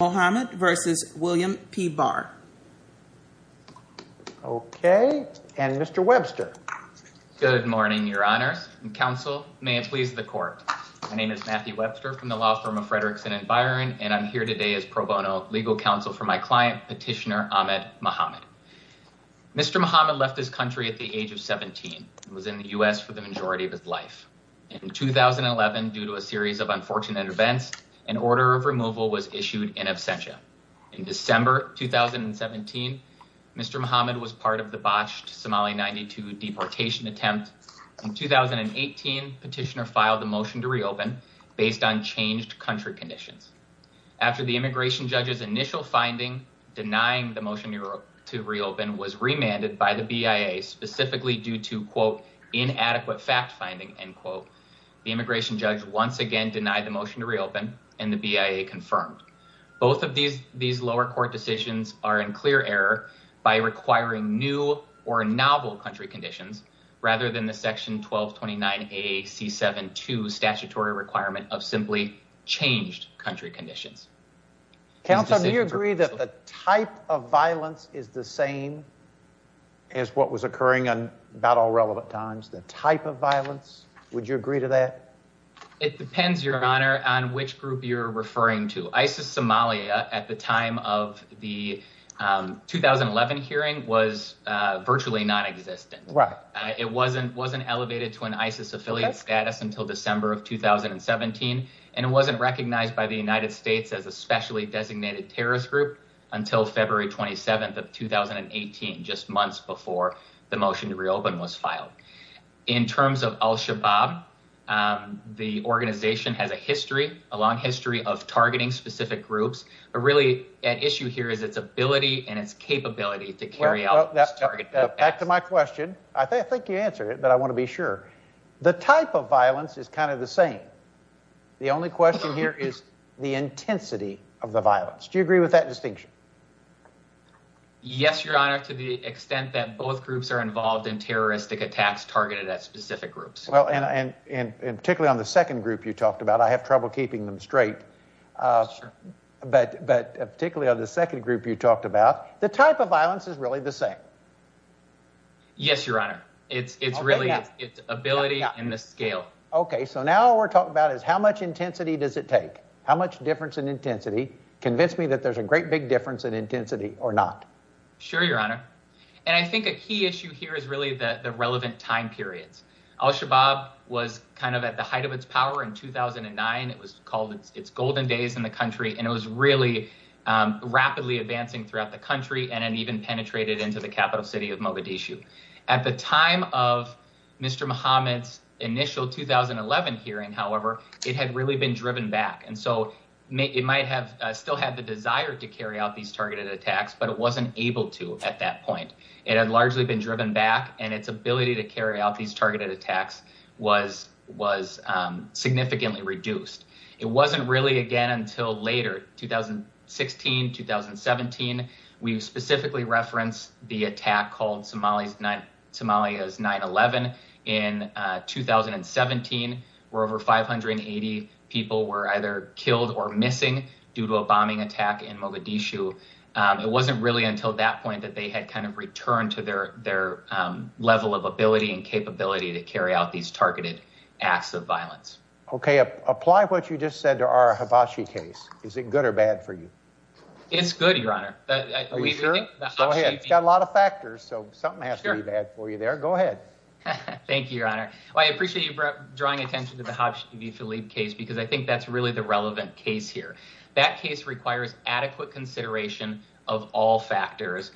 Okay, and Mr. Webster. Good morning, your honors and counsel. May it please the court. My name is Matthew Webster from the law firm of Frederickson & Byron, and I'm here today as pro bono legal counsel for my client, Petitioner Ahmed Mohamed. Mr. Mohamed left his country at the age of 17 and was in the U.S. for the majority of his life. In 2011, due to a series of unfortunate events, an order of removal was issued in absentia. In December 2017, Mr. Mohamed was part of the botched Somali 92 deportation attempt. In 2018, Petitioner filed a motion to reopen based on changed country conditions. After the immigration judge's initial finding denying the motion to reopen was remanded by the BIA specifically due to, quote, inadequate fact finding, end quote, the immigration judge once again denied the motion to reopen and the BIA confirmed. Both of these lower court decisions are in clear error by requiring new or novel country conditions rather than the section 1229A-C-7-2 statutory requirement of simply changed country conditions. Counsel, do you agree that the type of violence is the same as what was occurring on about all relevant times, the type of violence? Would you agree to that? It depends, Your Honor, on which group you're referring to. ISIS Somalia at the time of the 2011 hearing was virtually nonexistent. It wasn't wasn't elevated to an ISIS affiliate status until December of 2017, and it wasn't recognized by the United States as a specially designated terrorist group until February 27th of 2018, just months before the motion to reopen was filed. In terms of al-Shabaab, the organization has a history, a long history of targeting specific groups, but really at issue here is its ability and its capability to carry out this target. Back to my question. I think you answered it, but I want to be sure. The type of violence is kind of the same. The only question here is the intensity of the violence. Do you agree with that distinction? Yes, Your Honor, to the extent that both groups are involved in terroristic attacks targeted at specific groups. Well, and particularly on the second group you talked about, I have trouble keeping them straight, but particularly on the second group you talked about, the type of violence is really the same. Yes, Your Honor. It's really its ability and the scale. Okay, so now we're talking about is how much intensity does it take? How much difference in intensity? Convince me that there's a great big difference in intensity or not. Sure, Your Honor. And I think a key issue here is really the relevant time periods. Al-Shabaab was kind of at the height of its power in 2009. It was called its golden days in the country, and it was really rapidly advancing throughout the country and even penetrated into the capital city of Mogadishu. At the time of Mr. Mohammed's initial 2011 hearing, however, it had really been driven back. And so it might have still had the desire to carry out these targeted attacks, but it wasn't able to at that point. It had largely been driven back, and its ability to carry out these targeted attacks was significantly reduced. It wasn't really again until later, 2016, 2017, we specifically referenced the attack called Somalia's 9-11 in 2017, where over 580 people were either killed or missing due to a bombing attack in Mogadishu. It wasn't really until that point that they had kind of returned to their level of ability and capability to carry out these targeted acts of violence. Okay, apply what you just said to our Habashi case. Is it good or bad for you? It's good, Your Honor. Are you sure? Go ahead. It's got a lot of factors, so something has to be bad for you there. Go ahead. Thank you, Your Honor. I appreciate you drawing attention to the Habashi v. Philippe case because I think that's really the relevant case here. That case requires adequate consideration of all factors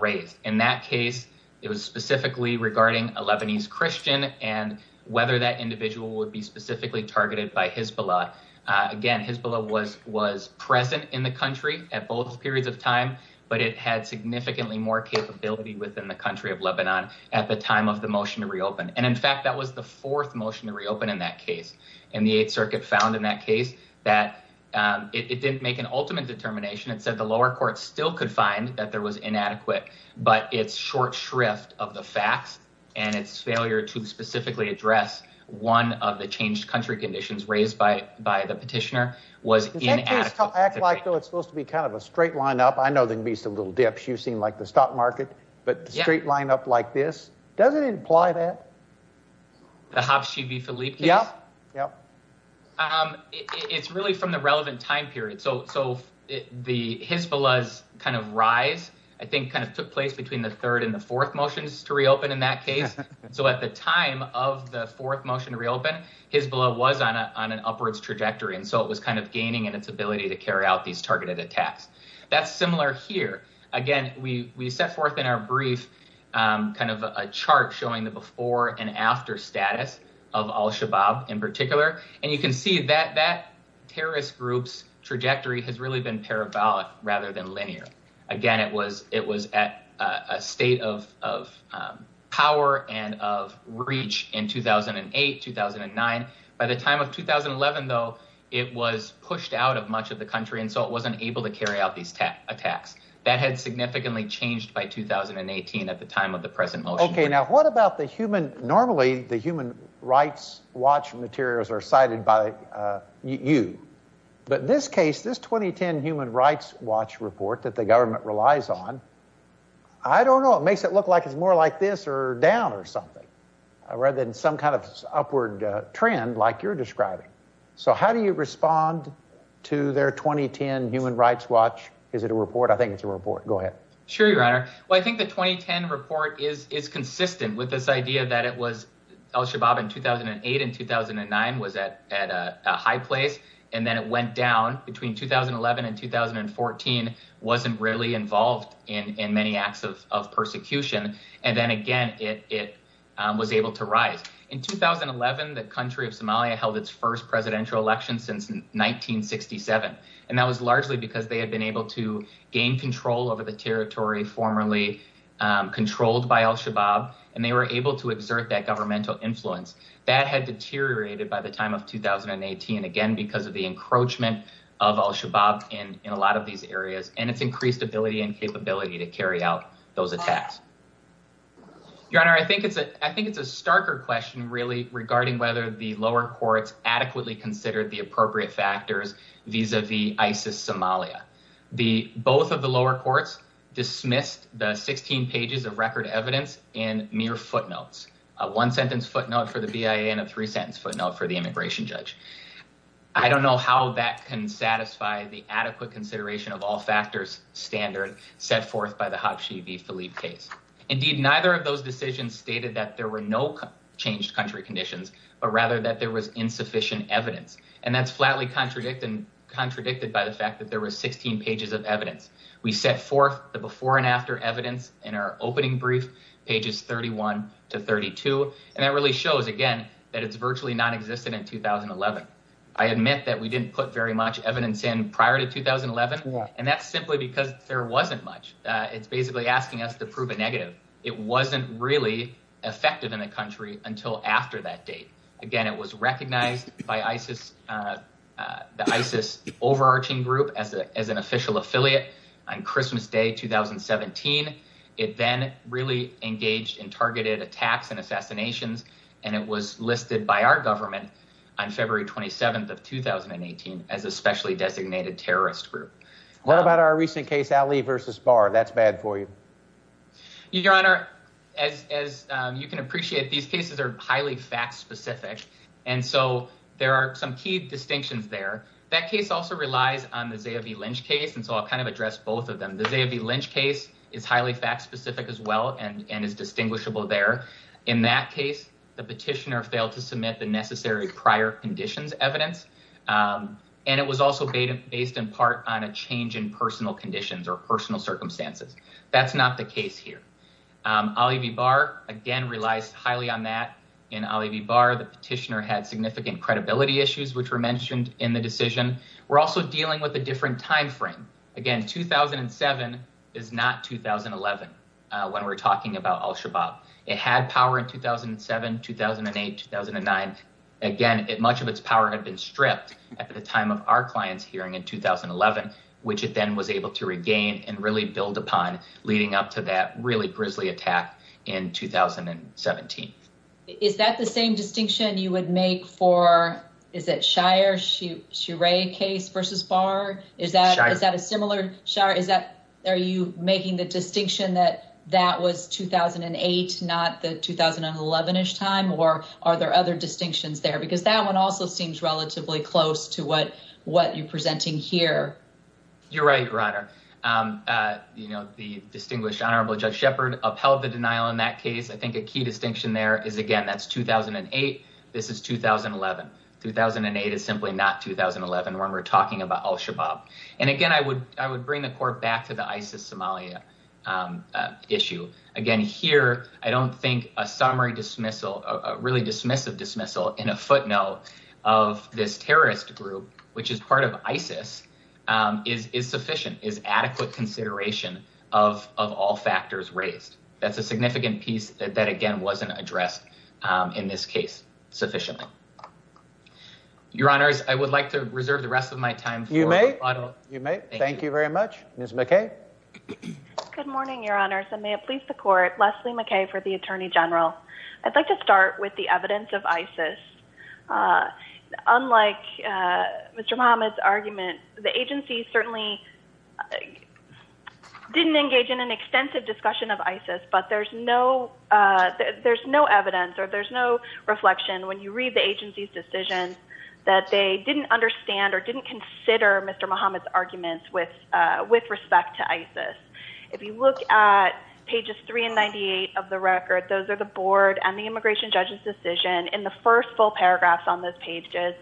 raised. In that case, it was specifically regarding a Lebanese Christian and whether that individual would be specifically targeted by Hezbollah. Again, Hezbollah was present in the country at both periods of time, but it had significantly more capability within the country of Lebanon at the time of the motion to reopen. In fact, that was the fourth motion to reopen in that case, and the Eighth Circuit found in that case that it didn't make an ultimate determination. It said the lower court still could find that there was inadequate, but its short shrift of the facts and its failure to specifically address one of the changed country conditions raised by the petitioner was inadequate. It's supposed to be kind of a straight line up. I know there can be some little dips. You've seen the stock market, but a straight line up like this, does it imply that? The Habashi v. Philippe case? Yeah. It's really from the relevant time period. So Hezbollah's kind of rise, I think, kind of took place between the third and the fourth motions to reopen in that case. So at the time of the fourth motion to reopen, Hezbollah was on an upwards trajectory, and so it was kind of gaining in its ability to carry out these targeted attacks. That's similar here. Again, we set forth in our brief kind of a chart showing the before and after status of al-Shabaab in particular, and you can see that that terrorist group's trajectory has really been parabolic rather than linear. Again, it was at a state of power and of reach in 2008, 2009. By the time of 2011, though, it was pushed out of much of the country, and so it wasn't able to carry out these attacks. That had significantly changed by 2018 at the time of the present motion. Okay, now what about the human – normally the human rights watch materials are cited by you. But in this case, this 2010 Human Rights Watch report that the government relies on, I don't know, it makes it look like it's more like this or down or something rather than some kind of upward trend like you're describing. So how do you respond to their 2010 Human Rights Watch – is it a report? I think it's a report. Go ahead. Sure, Your Honor. Well, I think the 2010 report is consistent with this idea that it was al-Shabaab in 2008 and 2009 was at a high place, and then it went down between 2011 and 2014, wasn't really involved in many acts of persecution, and then again it was able to rise. In 2011, the country of Somalia held its first presidential election since 1967, and that was largely because they had been able to gain control over the territory formerly controlled by al-Shabaab, and they were able to exert that governmental influence. That had deteriorated by the time of 2018, again because of the encroachment of al-Shabaab in a lot of these areas and its increased ability and capability to carry out those attacks. Your Honor, I think it's a starker question really regarding whether the lower courts adequately considered the appropriate factors vis-a-vis ISIS Somalia. Both of the lower courts dismissed the 16 pages of record evidence in mere footnotes – a one-sentence footnote for the BIA and a three-sentence footnote for the immigration judge. I don't know how that can satisfy the adequate consideration of all factors standard set forth by the Habshi v. Philippe case. Indeed, neither of those decisions stated that there were no changed country conditions, but rather that there was insufficient evidence, and that's flatly contradicted by the fact that there were 16 pages of evidence. We set forth the before and after evidence in our opening brief, pages 31 to 32, and that really shows, again, that it's virtually nonexistent in 2011. I admit that we didn't put very much evidence in prior to 2011, and that's simply because there wasn't much. It's basically asking us to prove a negative. It wasn't really effective in the country until after that date. Again, it was recognized by the ISIS overarching group as an official affiliate on Christmas Day 2017. It then really engaged in targeted attacks and assassinations, and it was listed by our government on February 27th of 2018 as a specially designated terrorist group. What about our recent case, Ali v. Barr? That's bad for you. Your Honor, as you can appreciate, these cases are highly fact-specific, and so there are some key distinctions there. That case also relies on the Zia v. Lynch case, and so I'll kind of address both of them. The Zia v. Lynch case is highly fact-specific as well and is distinguishable there. In that case, the petitioner failed to submit the necessary prior conditions evidence, and it was also based in part on a change in personal conditions or personal circumstances. That's not the case here. Ali v. Barr, again, relies highly on that. In Ali v. Barr, the petitioner had significant credibility issues, which were mentioned in the decision. We're also dealing with a different time frame. Again, 2007 is not 2011 when we're talking about al-Shabaab. It had power in 2007, 2008, 2009. Again, much of its power had been stripped at the time of our client's hearing in 2011, which it then was able to regain and really build upon leading up to that really grisly attack in 2017. Is that the same distinction you would make for—is it Shire v. Barr? Shire. Are you making the distinction that that was 2008, not the 2011-ish time? Or are there other distinctions there? Because that one also seems relatively close to what you're presenting here. You're right, Ryder. The distinguished, honorable Judge Shepard upheld the denial in that case. I think a key distinction there is, again, that's 2008. This is 2011. 2008 is simply not 2011 when we're talking about al-Shabaab. And, again, I would bring the court back to the ISIS-Somalia issue. Again, here I don't think a summary dismissal, a really dismissive dismissal in a footnote of this terrorist group, which is part of ISIS, is sufficient, is adequate consideration of all factors raised. That's a significant piece that, again, wasn't addressed in this case sufficiently. Your Honors, I would like to reserve the rest of my time for— You may. You may. Thank you very much. Ms. McKay. Good morning, Your Honors, and may it please the court. Leslie McKay for the attorney general. I'd like to start with the evidence of ISIS. Unlike Mr. Muhammad's argument, the agency certainly didn't engage in an extensive discussion of ISIS, but there's no evidence or there's no reflection when you read the agency's decision that they didn't understand or didn't consider Mr. Muhammad's arguments with respect to ISIS. If you look at pages 3 and 98 of the record, those are the board and the immigration judge's decision. In the first full paragraph on those pages,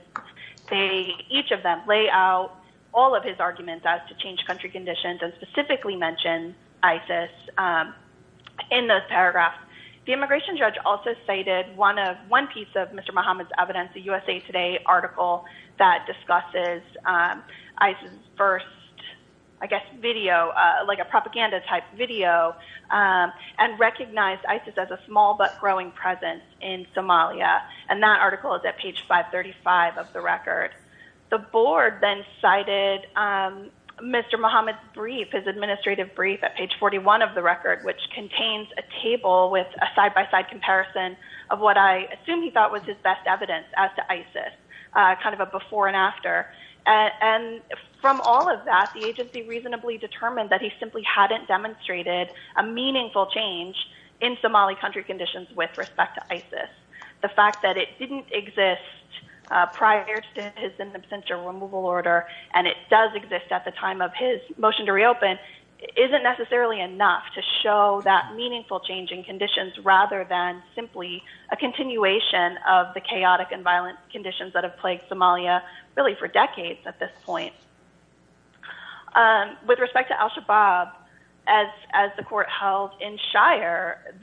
each of them lay out all of his arguments as to change country conditions and specifically mention ISIS in those paragraphs. The immigration judge also cited one piece of Mr. Muhammad's evidence, the USA Today article that discusses ISIS' first, I guess, video, like a propaganda-type video, and recognized ISIS as a small but growing presence in Somalia. And that article is at page 535 of the record. The board then cited Mr. Muhammad's brief, his administrative brief, at page 41 of the record, which contains a table with a side-by-side comparison of what I assume he thought was his best evidence as to ISIS, kind of a before and after. And from all of that, the agency reasonably determined that he simply hadn't demonstrated a meaningful change in Somali country conditions with respect to ISIS. The fact that it didn't exist prior to his in absentia removal order, and it does exist at the time of his motion to reopen, isn't necessarily enough to show that meaningful change in conditions rather than simply a continuation of the chaotic and violent conditions that have plagued Somalia really for decades at this point. With respect to al-Shabaab, as the court held in Shire,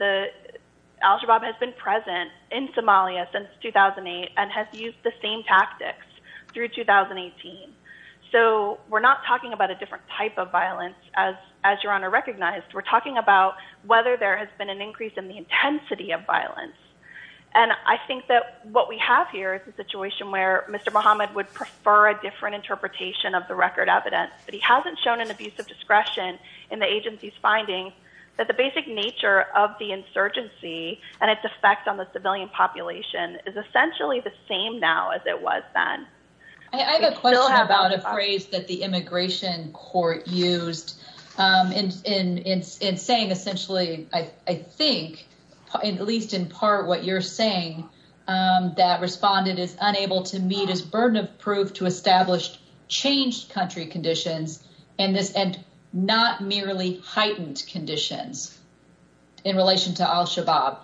al-Shabaab has been present in Somalia since 2008 and has used the same tactics through 2018. So we're not talking about a different type of violence, as Your Honor recognized. We're talking about whether there has been an increase in the intensity of violence. And I think that what we have here is a situation where Mr. Muhammad would prefer a different interpretation of the record evidence. But he hasn't shown an abuse of discretion in the agency's findings that the basic nature of the insurgency and its effect on the civilian population is essentially the same now as it was then. I have a question about a phrase that the immigration court used in saying essentially, I think, at least in part what you're saying, that respondent is unable to meet his burden of proof to establish changed country conditions and not merely heightened conditions in relation to al-Shabaab.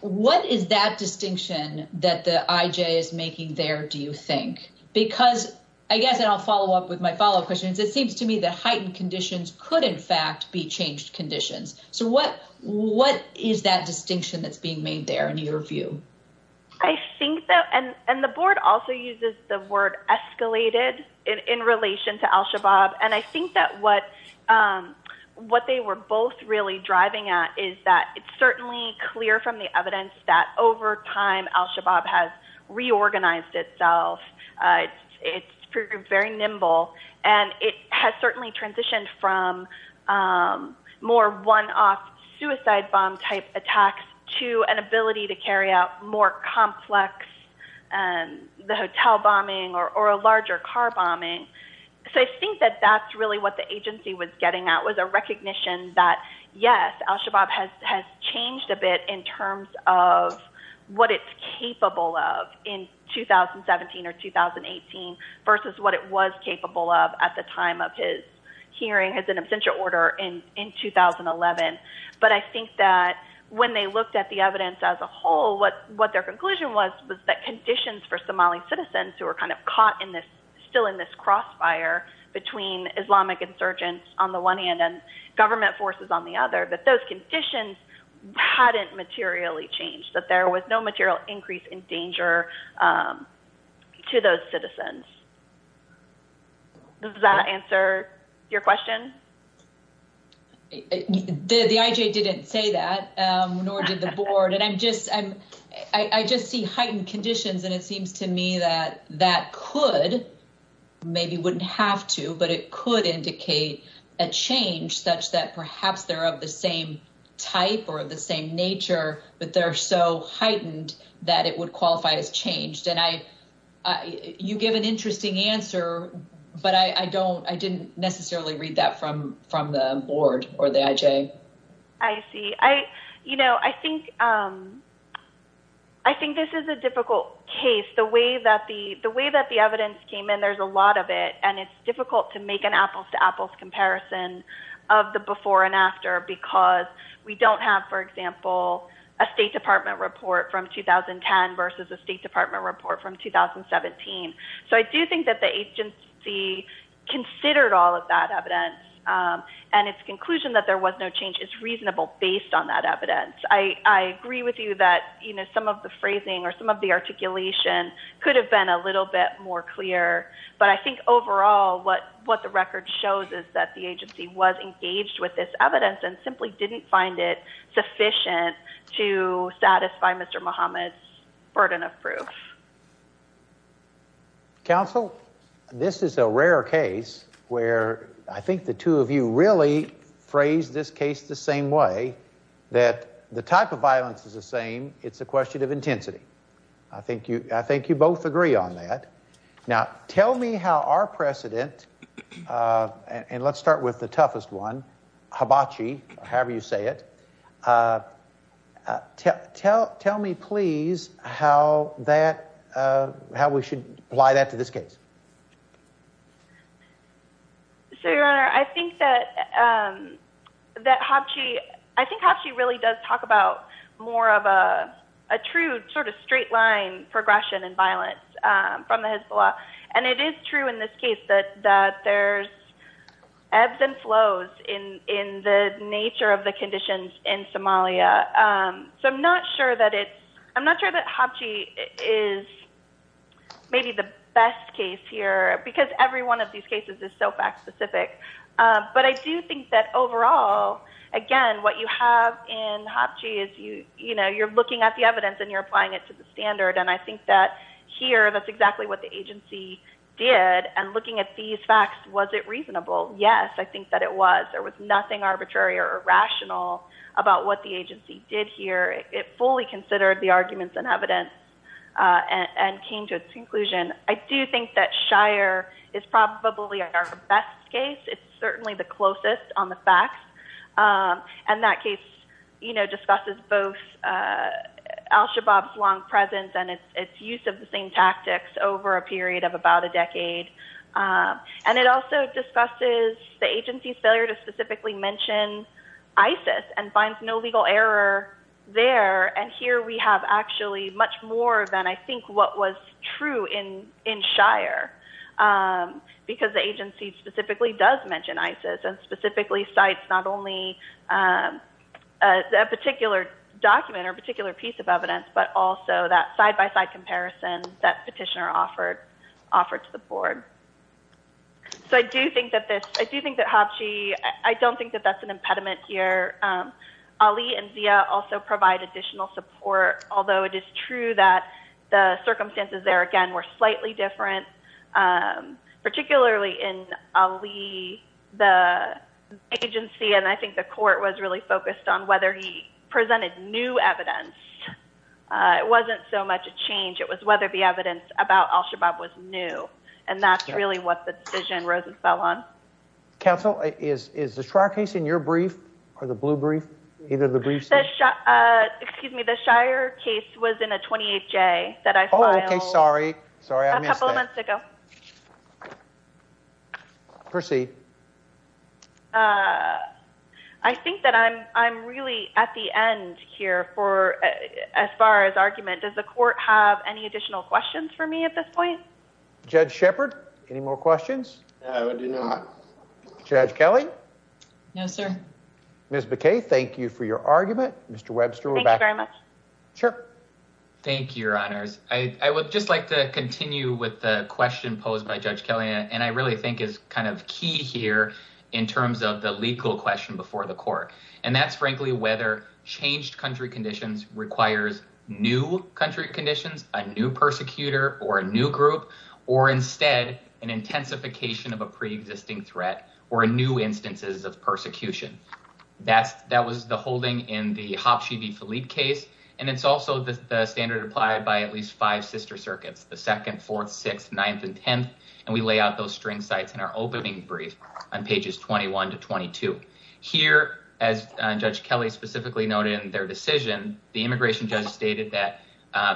What is that distinction that the IJ is making there, do you think? Because I guess I'll follow up with my follow up question. It seems to me that heightened conditions could in fact be changed conditions. So what what is that distinction that's being made there in your view? I think that and the board also uses the word escalated in relation to al-Shabaab. And I think that what what they were both really driving at is that it's certainly clear from the evidence that over time al-Shabaab has reorganized itself. It's very nimble and it has certainly transitioned from more one off suicide bomb type attacks to an ability to carry out more complex and the hotel bombing or a larger car bombing. So I think that that's really what the agency was getting at was a recognition that, yes, al-Shabaab has changed a bit in terms of what it's capable of in 2017 or 2018 versus what it was capable of at the time of his hearing as an absentia order in 2011. But I think that when they looked at the evidence as a whole, what what their conclusion was, was that conditions for Somali citizens who are kind of caught in this still in this crossfire between Islamic insurgents on the one hand and government forces on the other, that those conditions hadn't materially changed, that there was no material increase in danger to those citizens. Does that answer your question? The IJ didn't say that, nor did the board. And I'm just I'm I just see heightened conditions. And it seems to me that that could maybe wouldn't have to, but it could indicate a change such that perhaps they're of the same type or the same nature, but they're so heightened that it would qualify as changed. And I you give an interesting answer, but I don't I didn't necessarily read that from from the board or the IJ. I see. I, you know, I think I think this is a difficult case, the way that the the way that the evidence came in. There's a lot of it. And it's difficult to make an apples to apples comparison of the before and after because we don't have, for example, a State Department report from 2010 versus the State Department report from 2017. So I do think that the agency considered all of that evidence and its conclusion that there was no change is reasonable based on that evidence. I agree with you that some of the phrasing or some of the articulation could have been a little bit more clear. But I think overall, what what the record shows is that the agency was engaged with this evidence and simply didn't find it sufficient to satisfy Mr. Mohammed's burden of proof. Counsel, this is a rare case where I think the two of you really phrase this case the same way that the type of violence is the same. It's a question of intensity. I think you I think you both agree on that. Now, tell me how our precedent and let's start with the toughest one, Habachi, however you say it. Tell tell me, please, how that how we should apply that to this case. So, Your Honor, I think that that Habachi I think Habachi really does talk about more of a true sort of straight line progression and violence from the Hezbollah. And it is true in this case that that there's ebbs and flows in in the nature of the conditions in Somalia. So I'm not sure that it's I'm not sure that Habachi is maybe the best case here because every one of these cases is so fact specific. But I do think that overall, again, what you have in Habachi is you you know, you're looking at the evidence and you're applying it to the standard. And I think that here that's exactly what the agency did. And looking at these facts, was it reasonable? Yes, I think that it was. There was nothing arbitrary or irrational about what the agency did here. It fully considered the arguments and evidence and came to a conclusion. I do think that Shire is probably our best case. It's certainly the closest on the facts. And that case, you know, discusses both al-Shabaab's long presence and its use of the same tactics over a period of about a decade. And it also discusses the agency's failure to specifically mention ISIS and finds no legal error there. And here we have actually much more than I think what was true in in Shire, because the agency specifically does mention ISIS and specifically cites not only a particular document or particular piece of evidence, but also that side-by-side comparison that petitioner offered to the board. So I do think that this, I do think that Habachi, I don't think that that's an impediment here. Ali and Zia also provide additional support, although it is true that the circumstances there, again, were slightly different. Particularly in Ali, the agency, and I think the court, was really focused on whether he presented new evidence. It wasn't so much a change. It was whether the evidence about al-Shabaab was new. And that's really what the decision rose and fell on. Counsel, is the Shire case in your brief or the blue brief, either of the briefs? Excuse me. The Shire case was in a 28-J that I filed. Oh, okay. Sorry. Sorry, I missed that. A couple of months ago. Proceed. I think that I'm really at the end here for, as far as argument. Does the court have any additional questions for me at this point? Judge Shepard, any more questions? No, I do not. Judge Kelly? No, sir. Ms. McKay, thank you for your argument. Thank you very much. Sure. Thank you, Your Honors. I would just like to continue with the question posed by Judge Kelly, and I really think is kind of key here in terms of the legal question before the court. And that's, frankly, whether changed country conditions requires new country conditions, a new persecutor or a new group, or instead an intensification of a preexisting threat or new instances of persecution. That was the holding in the Habshi v. The second, fourth, sixth, ninth, and 10th. And we lay out those string sites in our opening brief on pages 21 to 22. Here, as Judge Kelly specifically noted in their decision, the immigration judge stated that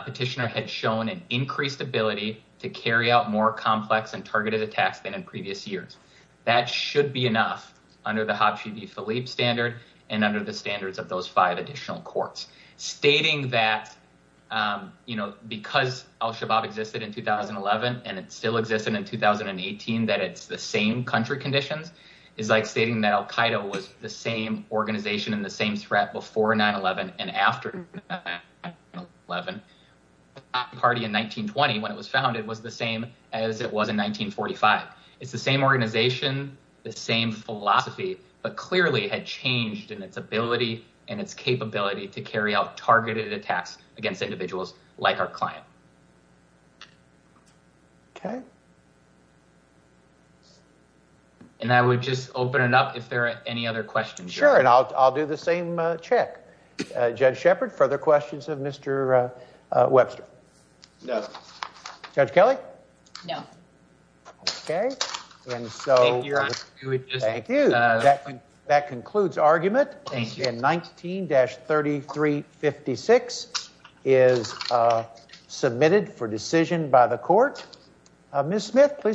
petitioner had shown an increased ability to carry out more complex and targeted attacks than in previous years. That should be enough under the Habshi v. Philippe standard and under the standards of those five additional courts. Stating that, you know, because al-Shabaab existed in 2011 and it still existed in 2018, that it's the same country conditions, is like stating that al-Qaeda was the same organization and the same threat before 9-11 and after 9-11. Party in 1920, when it was founded, was the same as it was in 1945. It's the same organization, the same philosophy, but clearly had changed in its ability and its capability to carry out targeted attacks against individuals like our client. Okay. And I would just open it up if there are any other questions. Sure, and I'll do the same check. Judge Shepard, further questions of Mr. Webster? No. Judge Kelly? No. Okay. Thank you, Your Honor. Thank you. That concludes argument. Thank you. And 19-3356 is submitted for decision by the court. Ms. Smith, please.